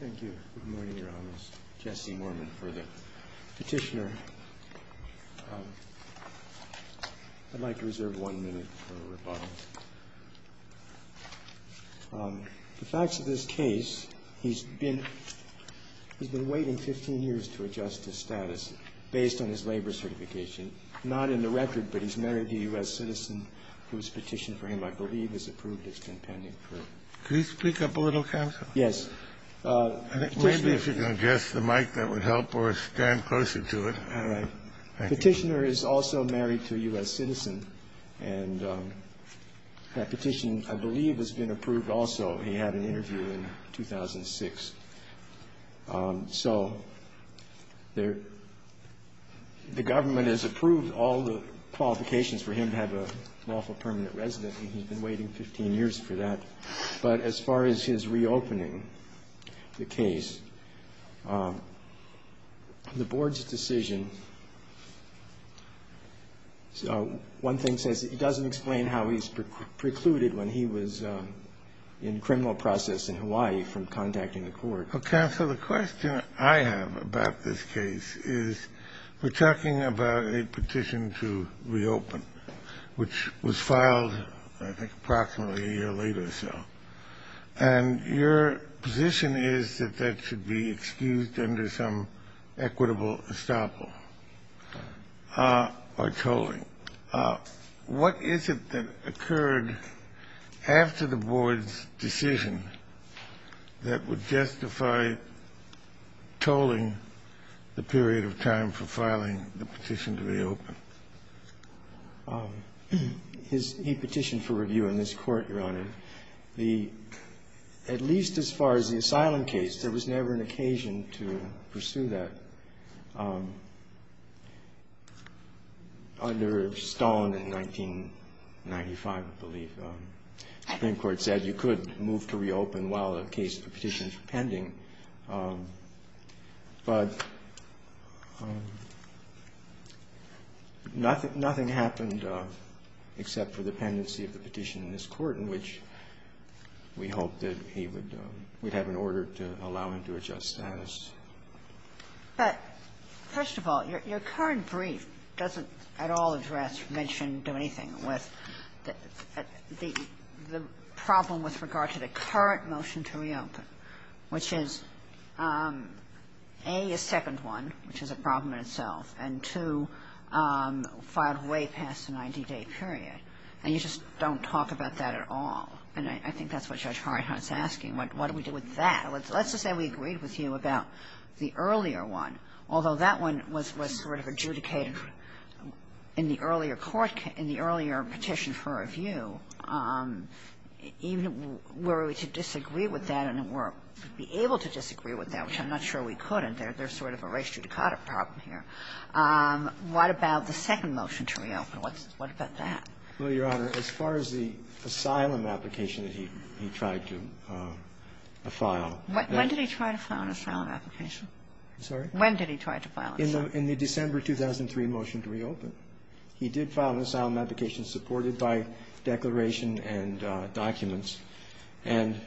The facts of this case, he's been waiting 15 years to adjust his status based on his labor certification. Not in the record, but he's married a U.S. citizen who has petitioned for him, I believe has approved his compendium. Kennedy Can you speak up a little, counsel? Dwaidari Yes. Kennedy Maybe if you can adjust the mic, that would help, or stand closer to it. Dwaidari All right. Petitioner is also married to a U.S. citizen, and that petition, I believe, has been approved also. He had an interview in 2006. So the government has approved all the qualifications for him to have a lawful permanent residence, and he's been waiting 15 years for that. But as far as his reopening the case, the board's decision, one thing says it doesn't explain how he's precluded when he was in criminal process in Hawaii from contacting the court. Kennedy Okay. So the question I have about this case is we're talking about a petition to reopen, which was filed, I think, approximately a year later or so. And your position is that that should be excused under some equitable estoppel or tolling. What is it that occurred after the board's decision that would justify tolling the period of time for filing the petition to reopen? Dwaidari He petitioned for review in this court, Your Honor. At least as far as the asylum case, there was never an occasion to pursue that. Under Stone in 1995, I believe, the Supreme Court said you could move to reopen while the case of the petition is pending. But nothing happened except for the pendency of the petition in this court, in which we hoped that he would have an order to allow him to adjust status. Ginsburg But first of all, your current brief doesn't at all address, mention, do anything with the problem with regard to the current motion to reopen, which is, A, a second one, which is a problem in itself, and, two, filed way past the 90-day period. And you just don't talk about that at all. And I think that's what Judge Harrenhut's asking. What do we do with that? Let's just say we agreed with you about the earlier one, although that one was sort of adjudicated in the earlier court case, in the earlier petition for review. Even were we to disagree with that and were able to disagree with that, which I'm not sure we could, and there's sort of a reis judicata problem here, what about the second motion to reopen? What about that? Verrilli, Your Honor, as far as the asylum application that he tried to file at that time. Kagan When did he try to file an asylum application? Verrilli, I'm sorry? Kagan When did he try to file an asylum application? Verrilli, In the December 2003 motion to reopen, he did file an asylum application supported by declaration and documents. And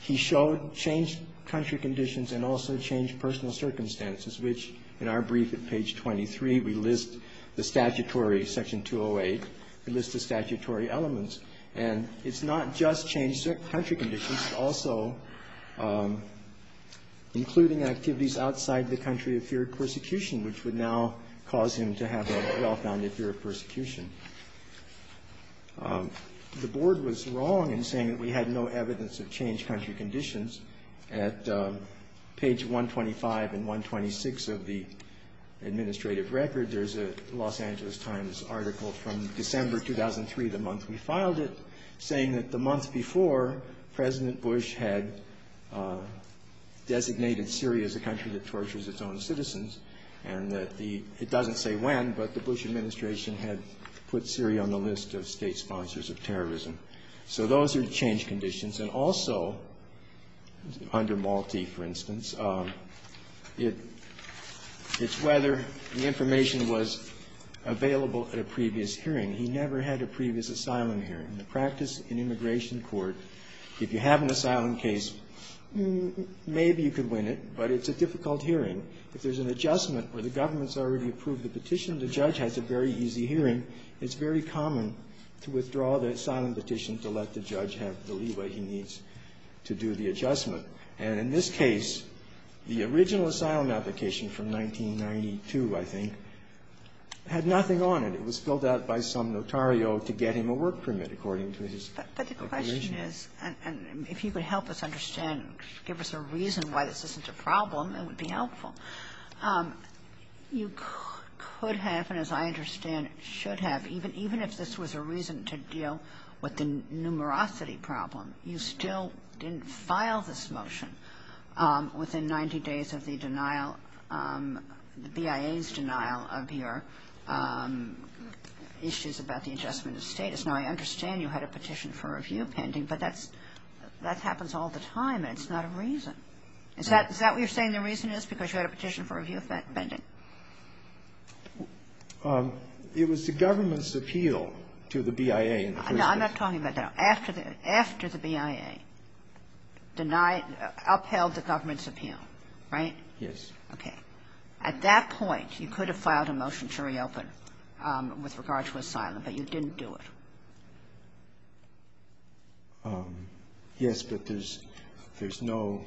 he showed changed country conditions and also changed personal circumstances, which in our brief at page 23, we list the statutory, section 208, we list the statutory elements. And it's not just changed country conditions, it's also including activities outside the country of fear of persecution, which would now cause him to have a well-founded fear of persecution. The Board was wrong in saying that we had no evidence of changed country conditions. At page 125 and 126 of the administrative record, there's a Los Angeles Times article from December 2003, the month we filed it, saying that the month before, President Bush had designated Syria as a country that tortures its own citizens, and that the administration had put Syria on the list of state sponsors of terrorism. So those are changed conditions. And also, under Malti, for instance, it's whether the information was available at a previous hearing. He never had a previous asylum hearing. In the practice in immigration court, if you have an asylum case, maybe you could win it, but it's a difficult hearing. If there's an adjustment where the government's already approved the petition, the judge has a very easy hearing. It's very common to withdraw the asylum petition to let the judge have the leeway he needs to do the adjustment. And in this case, the original asylum application from 1992, I think, had nothing on it. It was filled out by some notario to get him a work permit, according to his declaration. Kagan. And if you could help us understand, give us a reason why this isn't a problem, it would be helpful. You could have, and as I understand, should have, even if this was a reason to deal with the numerosity problem, you still didn't file this motion within 90 days of the denial, the BIA's denial of your issues about the adjustment of status. Now, I understand you had a petition for review pending, but that happens all the time, and it's not a reason. Is that what you're saying the reason is, because you had a petition for review pending? It was the government's appeal to the BIA in the first place. No, I'm not talking about that. After the BIA denied, upheld the government's appeal, right? Yes. Okay. At that point, you could have filed a motion to reopen with regard to asylum, but you didn't do it. Yes, but there's no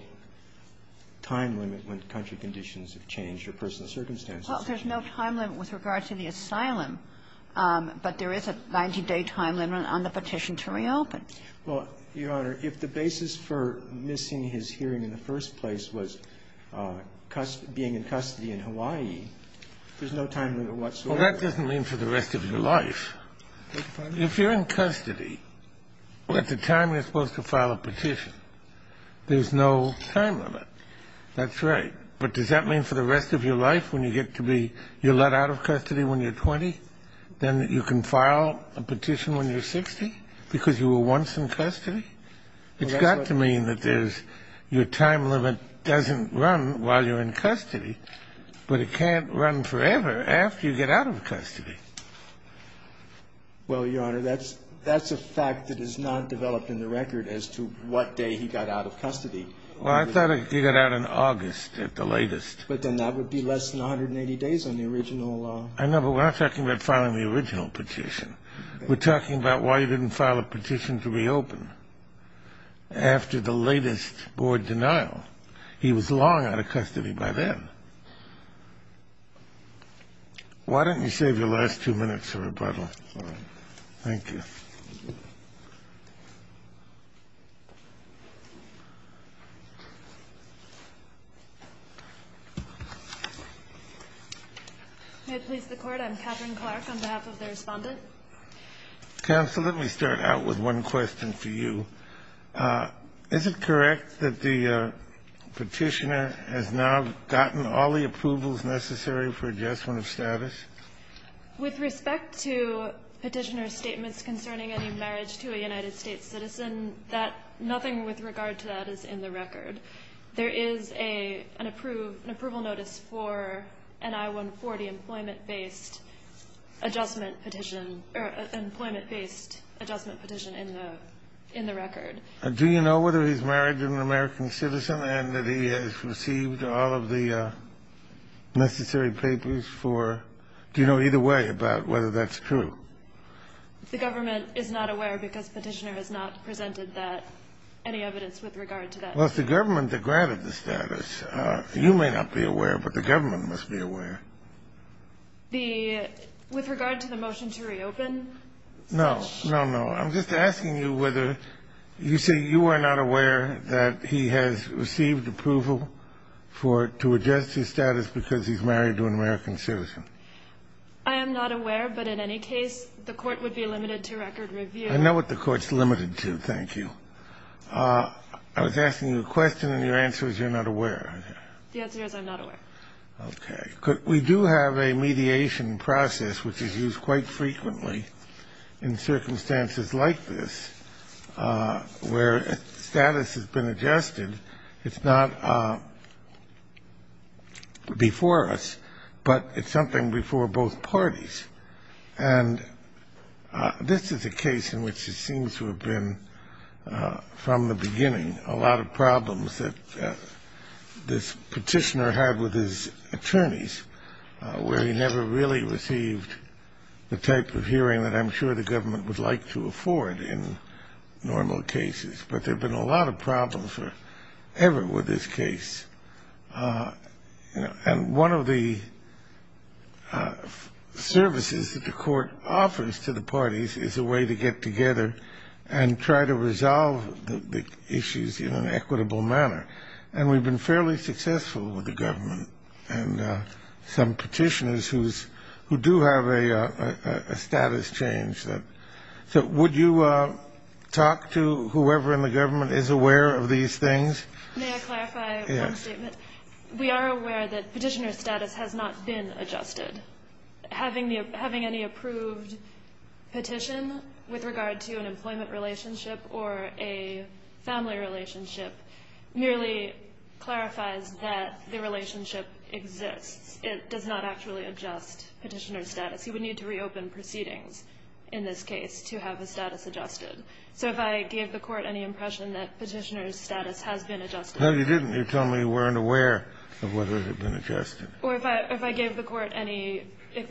time limit when country conditions have changed or personal circumstances have changed. Well, there's no time limit with regard to the asylum, but there is a 90-day time limit on the petition to reopen. Well, Your Honor, if the basis for missing his hearing in the first place was being in custody in Hawaii, there's no time limit whatsoever. Well, that doesn't mean for the rest of your life. If you're in custody, at the time you're supposed to file a petition, there's no time limit. That's right. But does that mean for the rest of your life when you get to be you're let out of custody when you're 20, then you can file a petition when you're 60 because you were once in custody? It's got to mean that there's your time limit doesn't run while you're in custody, but it can't run forever after you get out of custody. Well, Your Honor, that's a fact that is not developed in the record as to what day he got out of custody. Well, I thought he got out in August at the latest. But then that would be less than 180 days on the original. I know, but we're not talking about filing the original petition. We're talking about why he didn't file a petition to reopen after the latest board denial. He was long out of custody by then. Why don't you save your last two minutes of rebuttal? Thank you. May it please the court, I'm Catherine Clark on behalf of the respondent. Counsel, let me start out with one question for you. Is it correct that the petitioner has now gotten all the approvals necessary for adjustment of status? With respect to petitioner's statements concerning any marriage to a United States citizen, nothing with regard to that is in the record. There is an approval notice for an I-140 employment-based adjustment petition, in the record. Do you know whether he's married to an American citizen and that he has received all of the necessary papers for – do you know either way about whether that's true? The government is not aware because petitioner has not presented that – any evidence with regard to that. Well, it's the government that granted the status. You may not be aware, but the government must be aware. The – with regard to the motion to reopen? No, no, no. I'm just asking you whether – you say you are not aware that he has received approval for – to adjust his status because he's married to an American citizen. I am not aware, but in any case, the court would be limited to record review. I know what the court's limited to, thank you. I was asking you a question and your answer is you're not aware. The answer is I'm not aware. Okay. We do have a mediation process which is used quite frequently in circumstances like this where status has been adjusted. It's not before us, but it's something before both parties. And this is a case in which it seems to have been from the beginning a lot of problems that this petitioner had with his attorneys where he never really received the type of hearing that I'm sure the government would like to afford in normal cases. But there have been a lot of problems ever with this case. And one of the services that the court offers to the parties is a way to get together and try to resolve the issues in an equitable manner. And we've been fairly successful with the government and some petitioners who do have a status change. So would you talk to whoever in the government is aware of these things? May I clarify one statement? We are aware that petitioner status has not been adjusted. And having any approved petition with regard to an employment relationship or a family relationship merely clarifies that the relationship exists. It does not actually adjust petitioner status. You would need to reopen proceedings in this case to have the status adjusted. So if I gave the court any impression that petitioner status has been adjusted. No, you didn't. You told me you weren't aware of whether it had been adjusted. Or if I gave the court any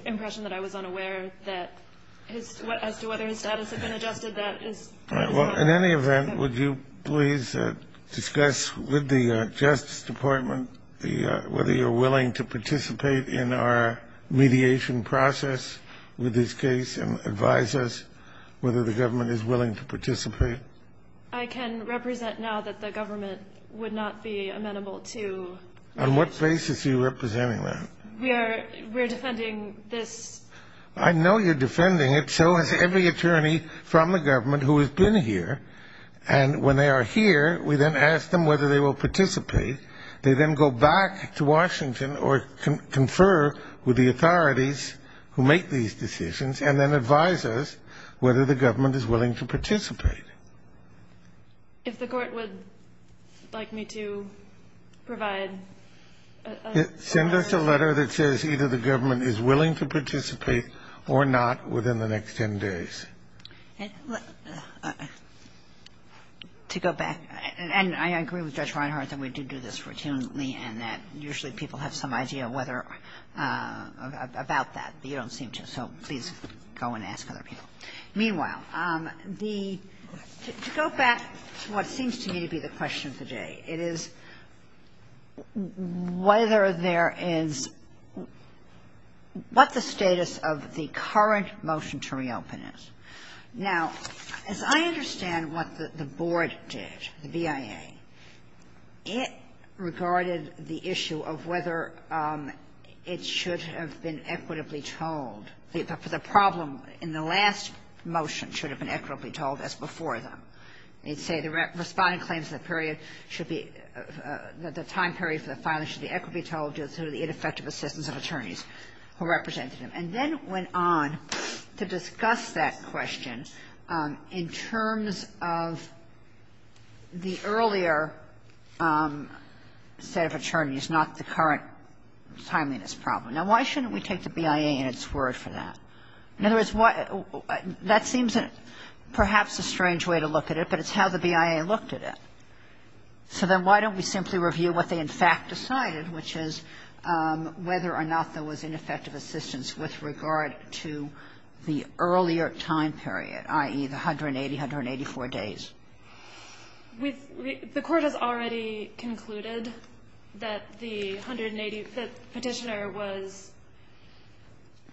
impression that I was unaware as to whether his status had been adjusted, that is. All right, well, in any event, would you please discuss with the Justice Department whether you're willing to participate in our mediation process with this case and advise us whether the government is willing to participate? I can represent now that the government would not be amenable to mediation. On what basis are you representing that? We are defending this. I know you're defending it. So has every attorney from the government who has been here. And when they are here, we then ask them whether they will participate. They then go back to Washington or confer with the authorities who make these decisions and then advise us whether the government is willing to participate. If the court would like me to provide a letter. Send us a letter that says either the government is willing to participate or not within the next 10 days. To go back, and I agree with Judge Reinhart that we do do this routinely and that usually people have some idea whether, about that, but you don't seem to. So please go and ask other people. Meanwhile, the to go back to what seems to me to be the question of the day, it is whether there is what the status of the current motion to reopen is. Now, as I understand what the board did, the BIA, it regarded the issue of whether it should have been equitably told. The problem in the last motion should have been equitably told as before them. They say the responding claims of the period should be, the time period for the filing should be equitably told due to the ineffective assistance of attorneys who represented them and then went on to discuss that question in terms of the earlier set of attorneys, not the current timeliness problem. Now, why shouldn't we take the BIA in its word for that? In other words, that seems perhaps a strange way to look at it, but it's how the BIA looked at it. So then why don't we simply review what they in fact decided, which is whether or not there was ineffective assistance with regard to the earlier time period, i.e., the 180, 184 days? The Court has already concluded that the 180-petitioner was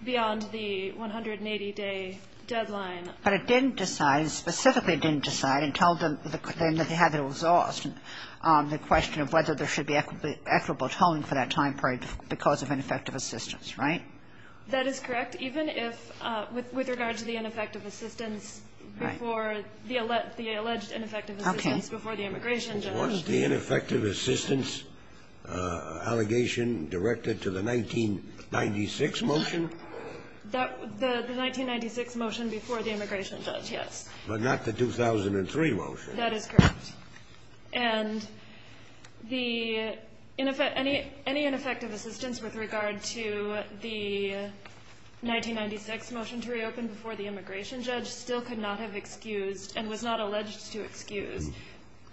beyond the 180-day deadline. But it didn't decide, specifically didn't decide until the end that they had it exhaust, the question of whether there should be equitable tolling for that time period because of ineffective assistance, right? That is correct, even if, with regard to the ineffective assistance before the alleged ineffective assistance before the immigration judge. Was the ineffective assistance allegation directed to the 1996 motion? The 1996 motion before the immigration judge, yes. But not the 2003 motion. That is correct. And the any ineffective assistance with regard to the 1996 motion to reopen before the immigration judge still could not have excused and was not alleged to excuse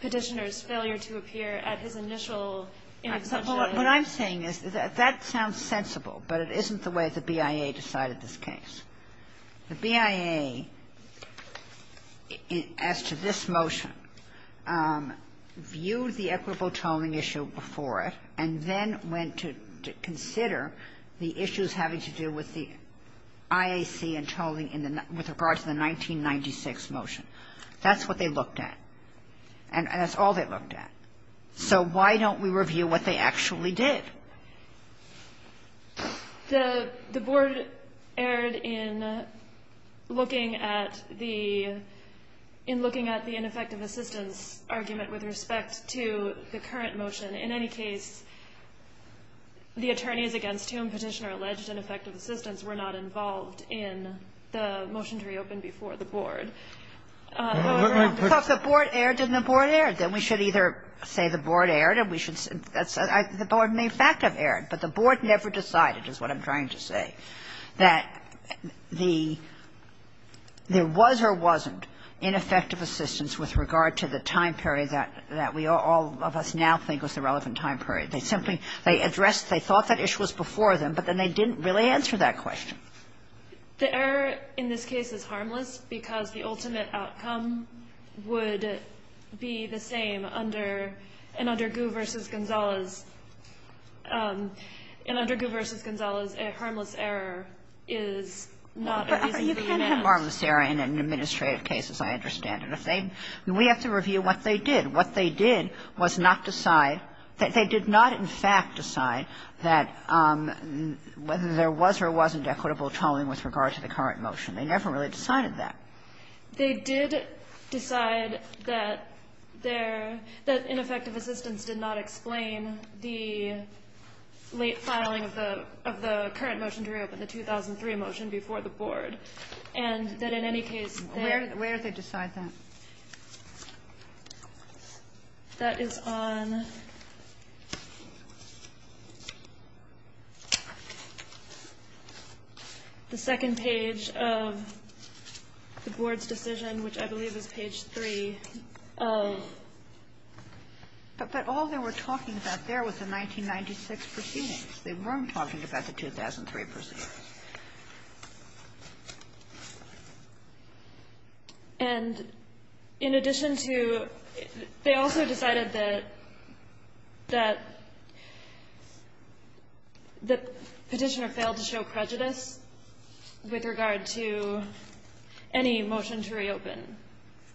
Petitioner's failure to appear at his initial inauguration. What I'm saying is that that sounds sensible, but it isn't the way the BIA decided this case. The BIA, as to this motion, viewed the equitable tolling issue before it and then went to consider the issues having to do with the IAC and tolling in the 19 — with regard to the 1996 motion. That's what they looked at. And that's all they looked at. So why don't we review what they actually did? The Board erred in looking at the — in looking at the ineffective assistance argument with respect to the current motion. In any case, the attorneys against whom Petitioner alleged ineffective assistance were not involved in the motion to reopen before the Board. However, I'm just saying the Board erred and the Board erred. If the Board erred, then we should either say the Board erred and we should — that's — the Board may in fact have erred, but the Board never decided, is what I'm trying to say, that the — there was or wasn't ineffective assistance with regard to the time period that we all of us now think was the relevant time period. They simply — they addressed — they thought that issue was before them, but then they didn't really answer that question. The error in this case is harmless because the ultimate outcome would be the same under — and under Gu v. Gonzales. And under Gu v. Gonzales, a harmless error is not a reason to remand. But you can't have harmless error in an administrative case, as I understand it. If they — we have to review what they did. What they did was not decide — they did not in fact decide that whether there was or wasn't equitable tolling with regard to the current motion. They never really decided that. They did decide that their — that ineffective assistance did not explain the late filing of the — of the current motion to reopen, the 2003 motion before the Board. And that in any case, there — Where did they decide that? That is on the second page of the Board's decision, which I believe is page 3 of — But all they were talking about there was the 1996 proceedings. They weren't talking about the 2003 proceedings. And in addition to — they also decided that — that the Petitioner failed to show prejudice with regard to any motion to reopen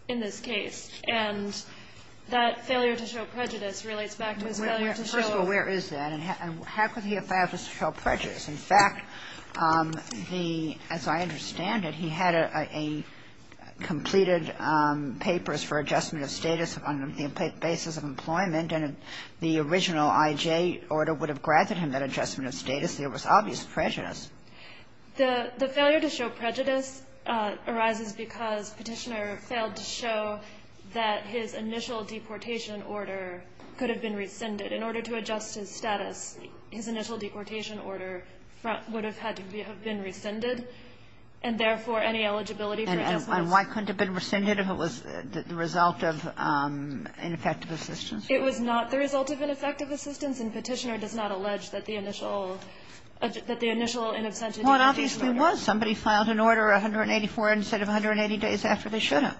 in this case. And that failure to show prejudice relates back to his failure to show — First of all, where is that? And how could he have failed to show prejudice? In fact, the — as I understand it, he had a — a completed papers for adjustment of status on the basis of employment, and the original I.J. order would have granted him that adjustment of status. There was obvious prejudice. The failure to show prejudice arises because Petitioner failed to show that his initial deportation order could have been rescinded. In order to adjust his status, his initial deportation order would have had to be — have been rescinded, and therefore, any eligibility for adjustments — And why couldn't it have been rescinded if it was the result of ineffective assistance? It was not the result of ineffective assistance, and Petitioner does not allege that the initial — that the initial in absentia deportation order — Well, it obviously was. Somebody filed an order 184 instead of 180 days after they should have.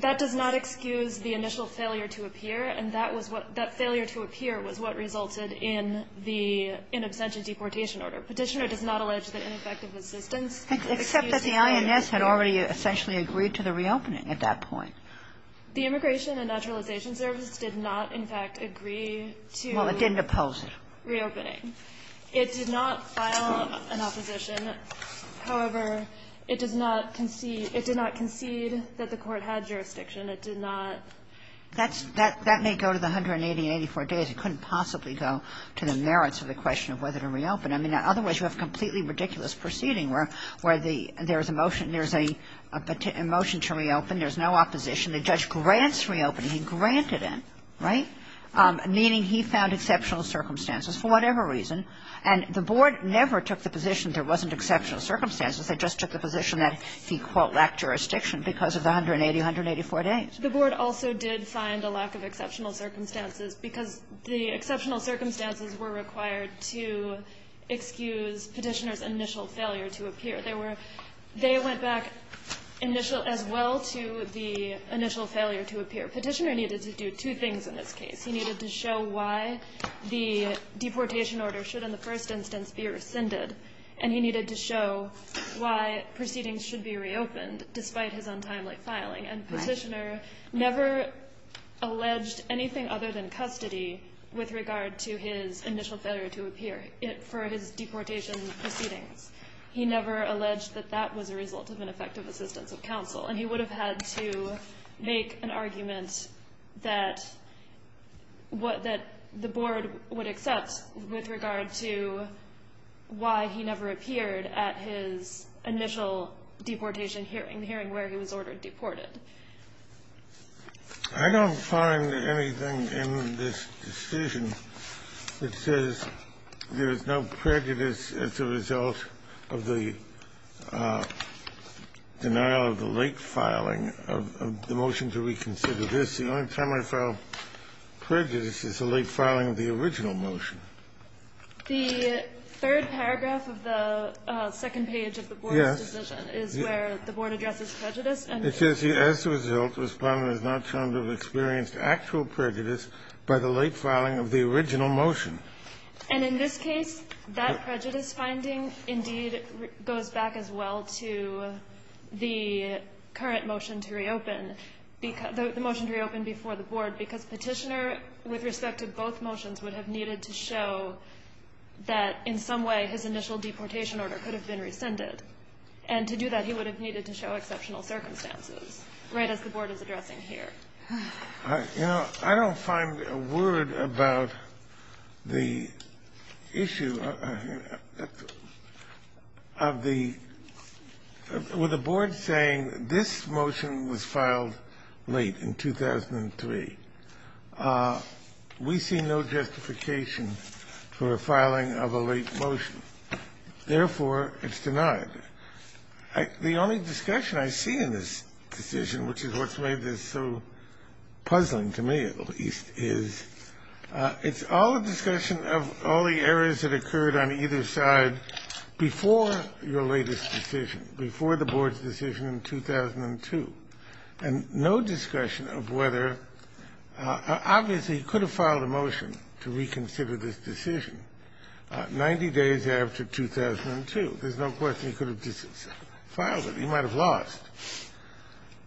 That does not excuse the initial failure to appear. And that was what — that failure to appear was what resulted in the in absentia deportation order. Petitioner does not allege that ineffective assistance is excusing the — Except that the INS had already essentially agreed to the reopening at that point. The Immigration and Naturalization Service did not, in fact, agree to — Well, it didn't oppose it. — reopening. It did not file an opposition. However, it does not concede — it did not concede that the Court had jurisdiction. It did not — That's — that may go to the 180 and 84 days. It couldn't possibly go to the merits of the question of whether to reopen. I mean, otherwise, you have a completely ridiculous proceeding where the — there is a motion, there is a motion to reopen, there is no opposition. The judge grants reopening. He granted it, right, meaning he found exceptional circumstances for whatever reason. And the Board never took the position there wasn't exceptional circumstances. They just took the position that he, quote, lacked jurisdiction because of the 180, 184 days. The Board also did find a lack of exceptional circumstances because the exceptional circumstances were required to excuse Petitioner's initial failure to appear. They were — they went back initial — as well to the initial failure to appear. Petitioner needed to do two things in this case. He needed to show why the deportation order should, in the first instance, be rescinded. And he needed to show why proceedings should be reopened despite his untimely filing. And Petitioner never alleged anything other than custody with regard to his initial failure to appear for his deportation proceedings. He never alleged that that was a result of ineffective assistance of counsel. And he would have had to make an argument that — what — that the Board would accept with regard to why he never appeared at his initial deportation hearing, where he was ordered deported. I don't find anything in this decision that says there is no prejudice as a result of the denial of the late filing of the motion to reconsider this. The only time I found prejudice is the late filing of the original motion. The third paragraph of the second page of the Board's decision is where the Board addresses prejudice and — It says, as a result, Respondent has not shown to have experienced actual prejudice by the late filing of the original motion. And in this case, that prejudice finding, indeed, goes back as well to the current motion to reopen, the motion to reopen before the Board, because Petitioner, with respect to both motions, would have needed to show that, in some way, his initial deportation order could have been rescinded. And to do that, he would have needed to show exceptional circumstances, right as the Board is addressing here. You know, I don't find a word about the issue of the — with the Board saying this motion was filed late, in 2003. We see no justification for a filing of a late motion. Therefore, it's denied. The only discussion I see in this decision, which is what's made this so puzzling to me, at least, is it's all a discussion of all the errors that occurred on either side before your latest decision, before the Board's decision in 2002, and no discussion of whether — obviously, he could have filed a motion to reconsider this decision 90 days after 2002. There's no question he could have just filed it. He might have lost.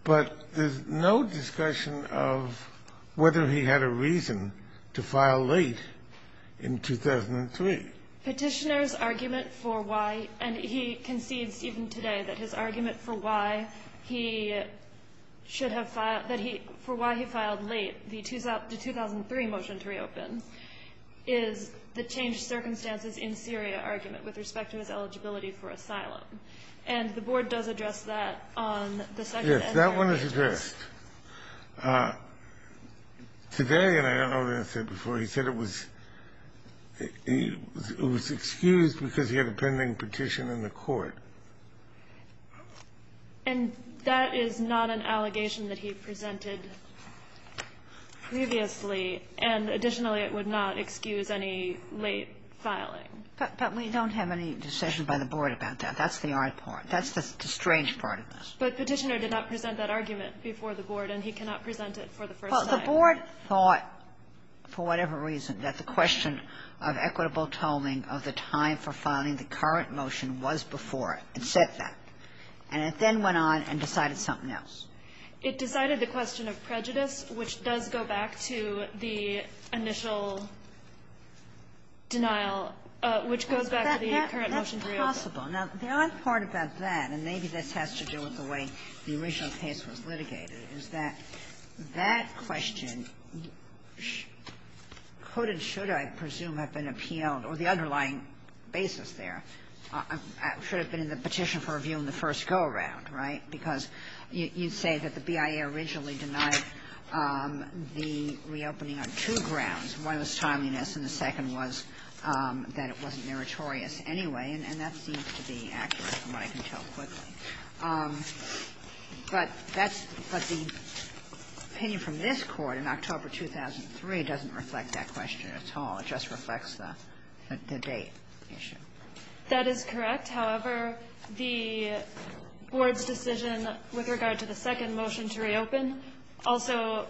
But there's no discussion of whether he had a reason to file late in 2003. Petitioner's argument for why — and he concedes even today that his argument for why he should have filed — that he — for why he filed late, the 2003 motion to reopen, is the changed circumstances in Syria argument with respect to his eligibility for asylum. And the Board does address that on the second — Yes, that one is addressed. Today, and I don't know what I said before, he said it was — it was excused because he had a pending petition in the court. And that is not an allegation that he presented previously. And additionally, it was not an allegation that he would not excuse any late filing. But we don't have any decision by the Board about that. That's the odd part. That's the strange part of this. But Petitioner did not present that argument before the Board, and he cannot present it for the first time. Well, the Board thought, for whatever reason, that the question of equitable tolling of the time for filing the current motion was before it. It said that. And it then went on and decided something else. It decided the question of prejudice, which does go back to the initial denial, which goes back to the current motion to reopen. That's possible. Now, the odd part about that, and maybe this has to do with the way the original case was litigated, is that that question could and should, I presume, have been appealed, or the underlying basis there should have been in the petition for review in the first go-around, right? Because you say that the BIA originally denied the reopening on two grounds. One was timeliness, and the second was that it wasn't meritorious anyway. And that seems to be accurate, from what I can tell quickly. But that's the opinion from this Court in October 2003 doesn't reflect that question at all. It just reflects the date issue. That is correct. However, the Board's decision with regard to the second motion to reopen, also,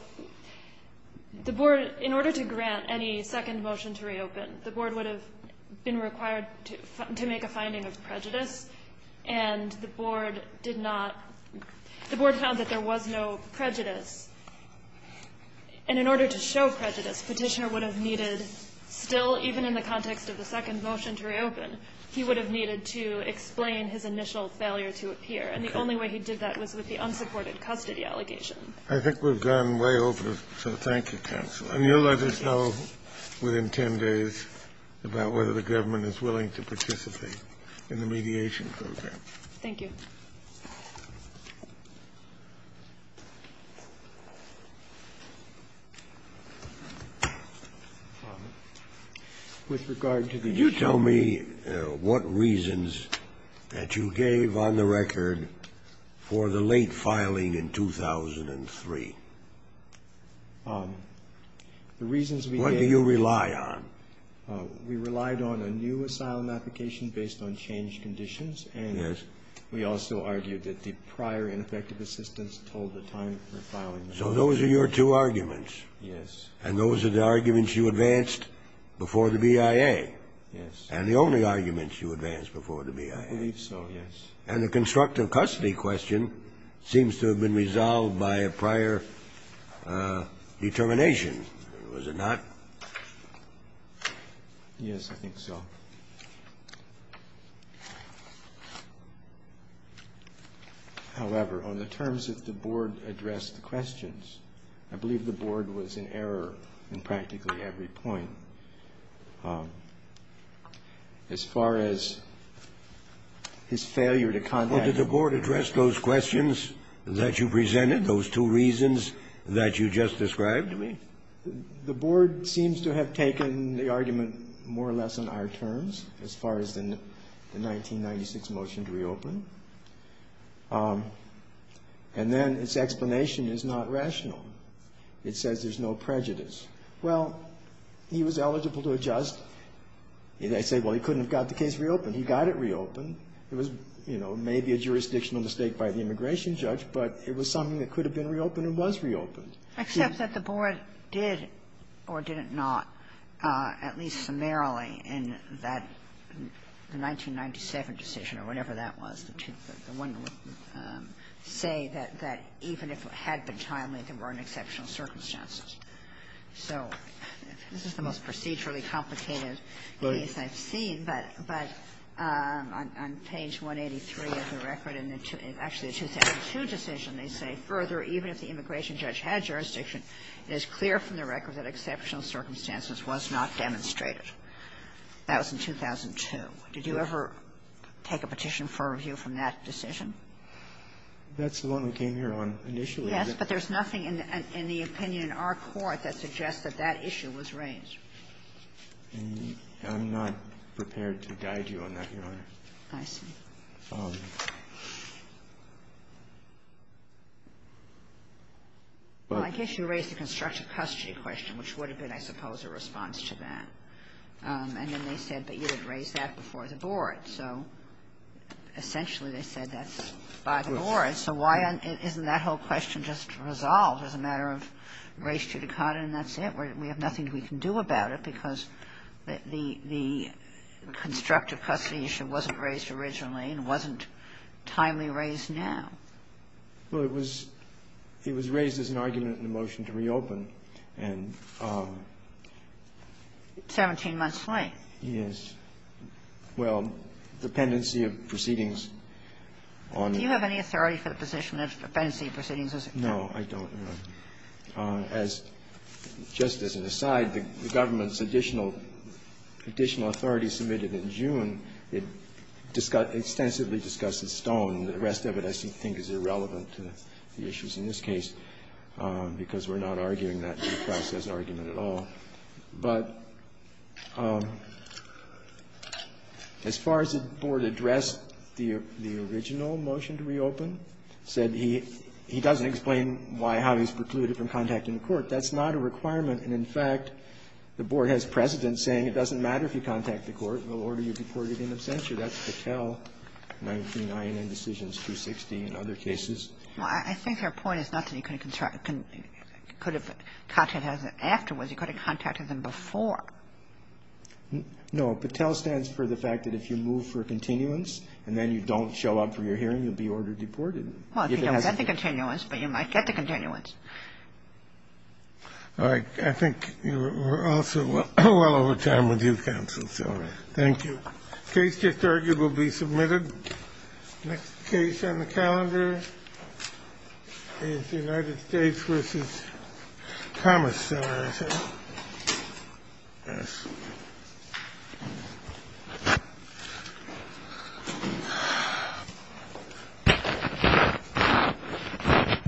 the Board, in order to grant any second motion to reopen, the Board would have been required to make a finding of prejudice, and the Board did not the Board found that there was no prejudice. And in order to show prejudice, Petitioner would have needed still, even in the context of the second motion to reopen, he would have needed to explain his initial failure to appear. And the only way he did that was with the unsupported custody allegation. I think we've gone way over, so thank you, Counsel. And you'll let us know within 10 days about whether the government is willing to participate in the mediation program. Thank you. Could you tell me what reasons that you gave on the record for the late filing in 2003? The reasons we gave What do you rely on? We relied on a new asylum application based on changed conditions. Yes. And we also argued that the prior ineffective assistance told the time for filing. So those are your two arguments. Yes. And those are the arguments you advanced before the BIA. Yes. And the only arguments you advanced before the BIA. I believe so, yes. And the constructive custody question seems to have been resolved by a prior determination, was it not? Yes, I think so. However, on the terms that the Board addressed the questions, I believe the Board was in error in practically every point. As far as his failure to contact the Board. Well, did the Board address those questions that you presented, those two reasons that you just described? The Board seems to have taken the argument more or less on our terms as far as the 1996 motion to reopen. And then its explanation is not rational. It says there's no prejudice. Well, he was eligible to adjust. I say, well, he couldn't have got the case reopened. He got it reopened. It was, you know, maybe a jurisdictional mistake by the immigration judge, but it was something that could have been reopened and was reopened. Except that the Board did, or did it not, at least summarily in that 1997 decision or whatever that was, the one that would say that even if it had been timely, there weren't exceptional circumstances. So this is the most procedurally complicated case I've seen, but on page 183 of the decision, they say, Further, even if the immigration judge had jurisdiction, it is clear from the record that exceptional circumstances was not demonstrated. That was in 2002. Did you ever take a petition for a review from that decision? That's the one we came here on initially. Yes, but there's nothing in the opinion in our court that suggests that that issue was raised. I'm not prepared to guide you on that, Your Honor. I see. Well, I guess you raised the constructive custody question, which would have been, I suppose, a response to that. And then they said, but you had raised that before the Board. So essentially they said that's by the Board. So why isn't that whole question just resolved as a matter of race judicata, and that's it? We have nothing we can do about it because the constructive custody issue wasn't raised originally and wasn't timely raised now. Well, it was raised as an argument in the motion to reopen. And 17 months late. Yes. Well, dependency of proceedings on it. Do you have any authority for the position of dependency of proceedings? No, I don't, Your Honor. As just as an aside, the government's additional authority submitted in June, it extensively discusses Stone. The rest of it I think is irrelevant to the issues in this case, because we're not arguing that in the process argument at all. But as far as the Board addressed the original motion to reopen, said he doesn't explain why, how he's precluded from contacting the court. That's not a requirement. And in fact, the Board has precedent saying it doesn't matter if you contact the court, you can get an abstention. That's Patel, 19 INN Decisions 260 and other cases. Well, I think your point is not that you could have contacted afterwards. You could have contacted them before. No. Patel stands for the fact that if you move for continuance and then you don't show up for your hearing, you'll be order deported. Well, if you don't get the continuance, but you might get the continuance. All right. I think we're also well over time with you, counsel. So thank you. The case just argued will be submitted. Next case on the calendar is United States v. Thomas. Thank you.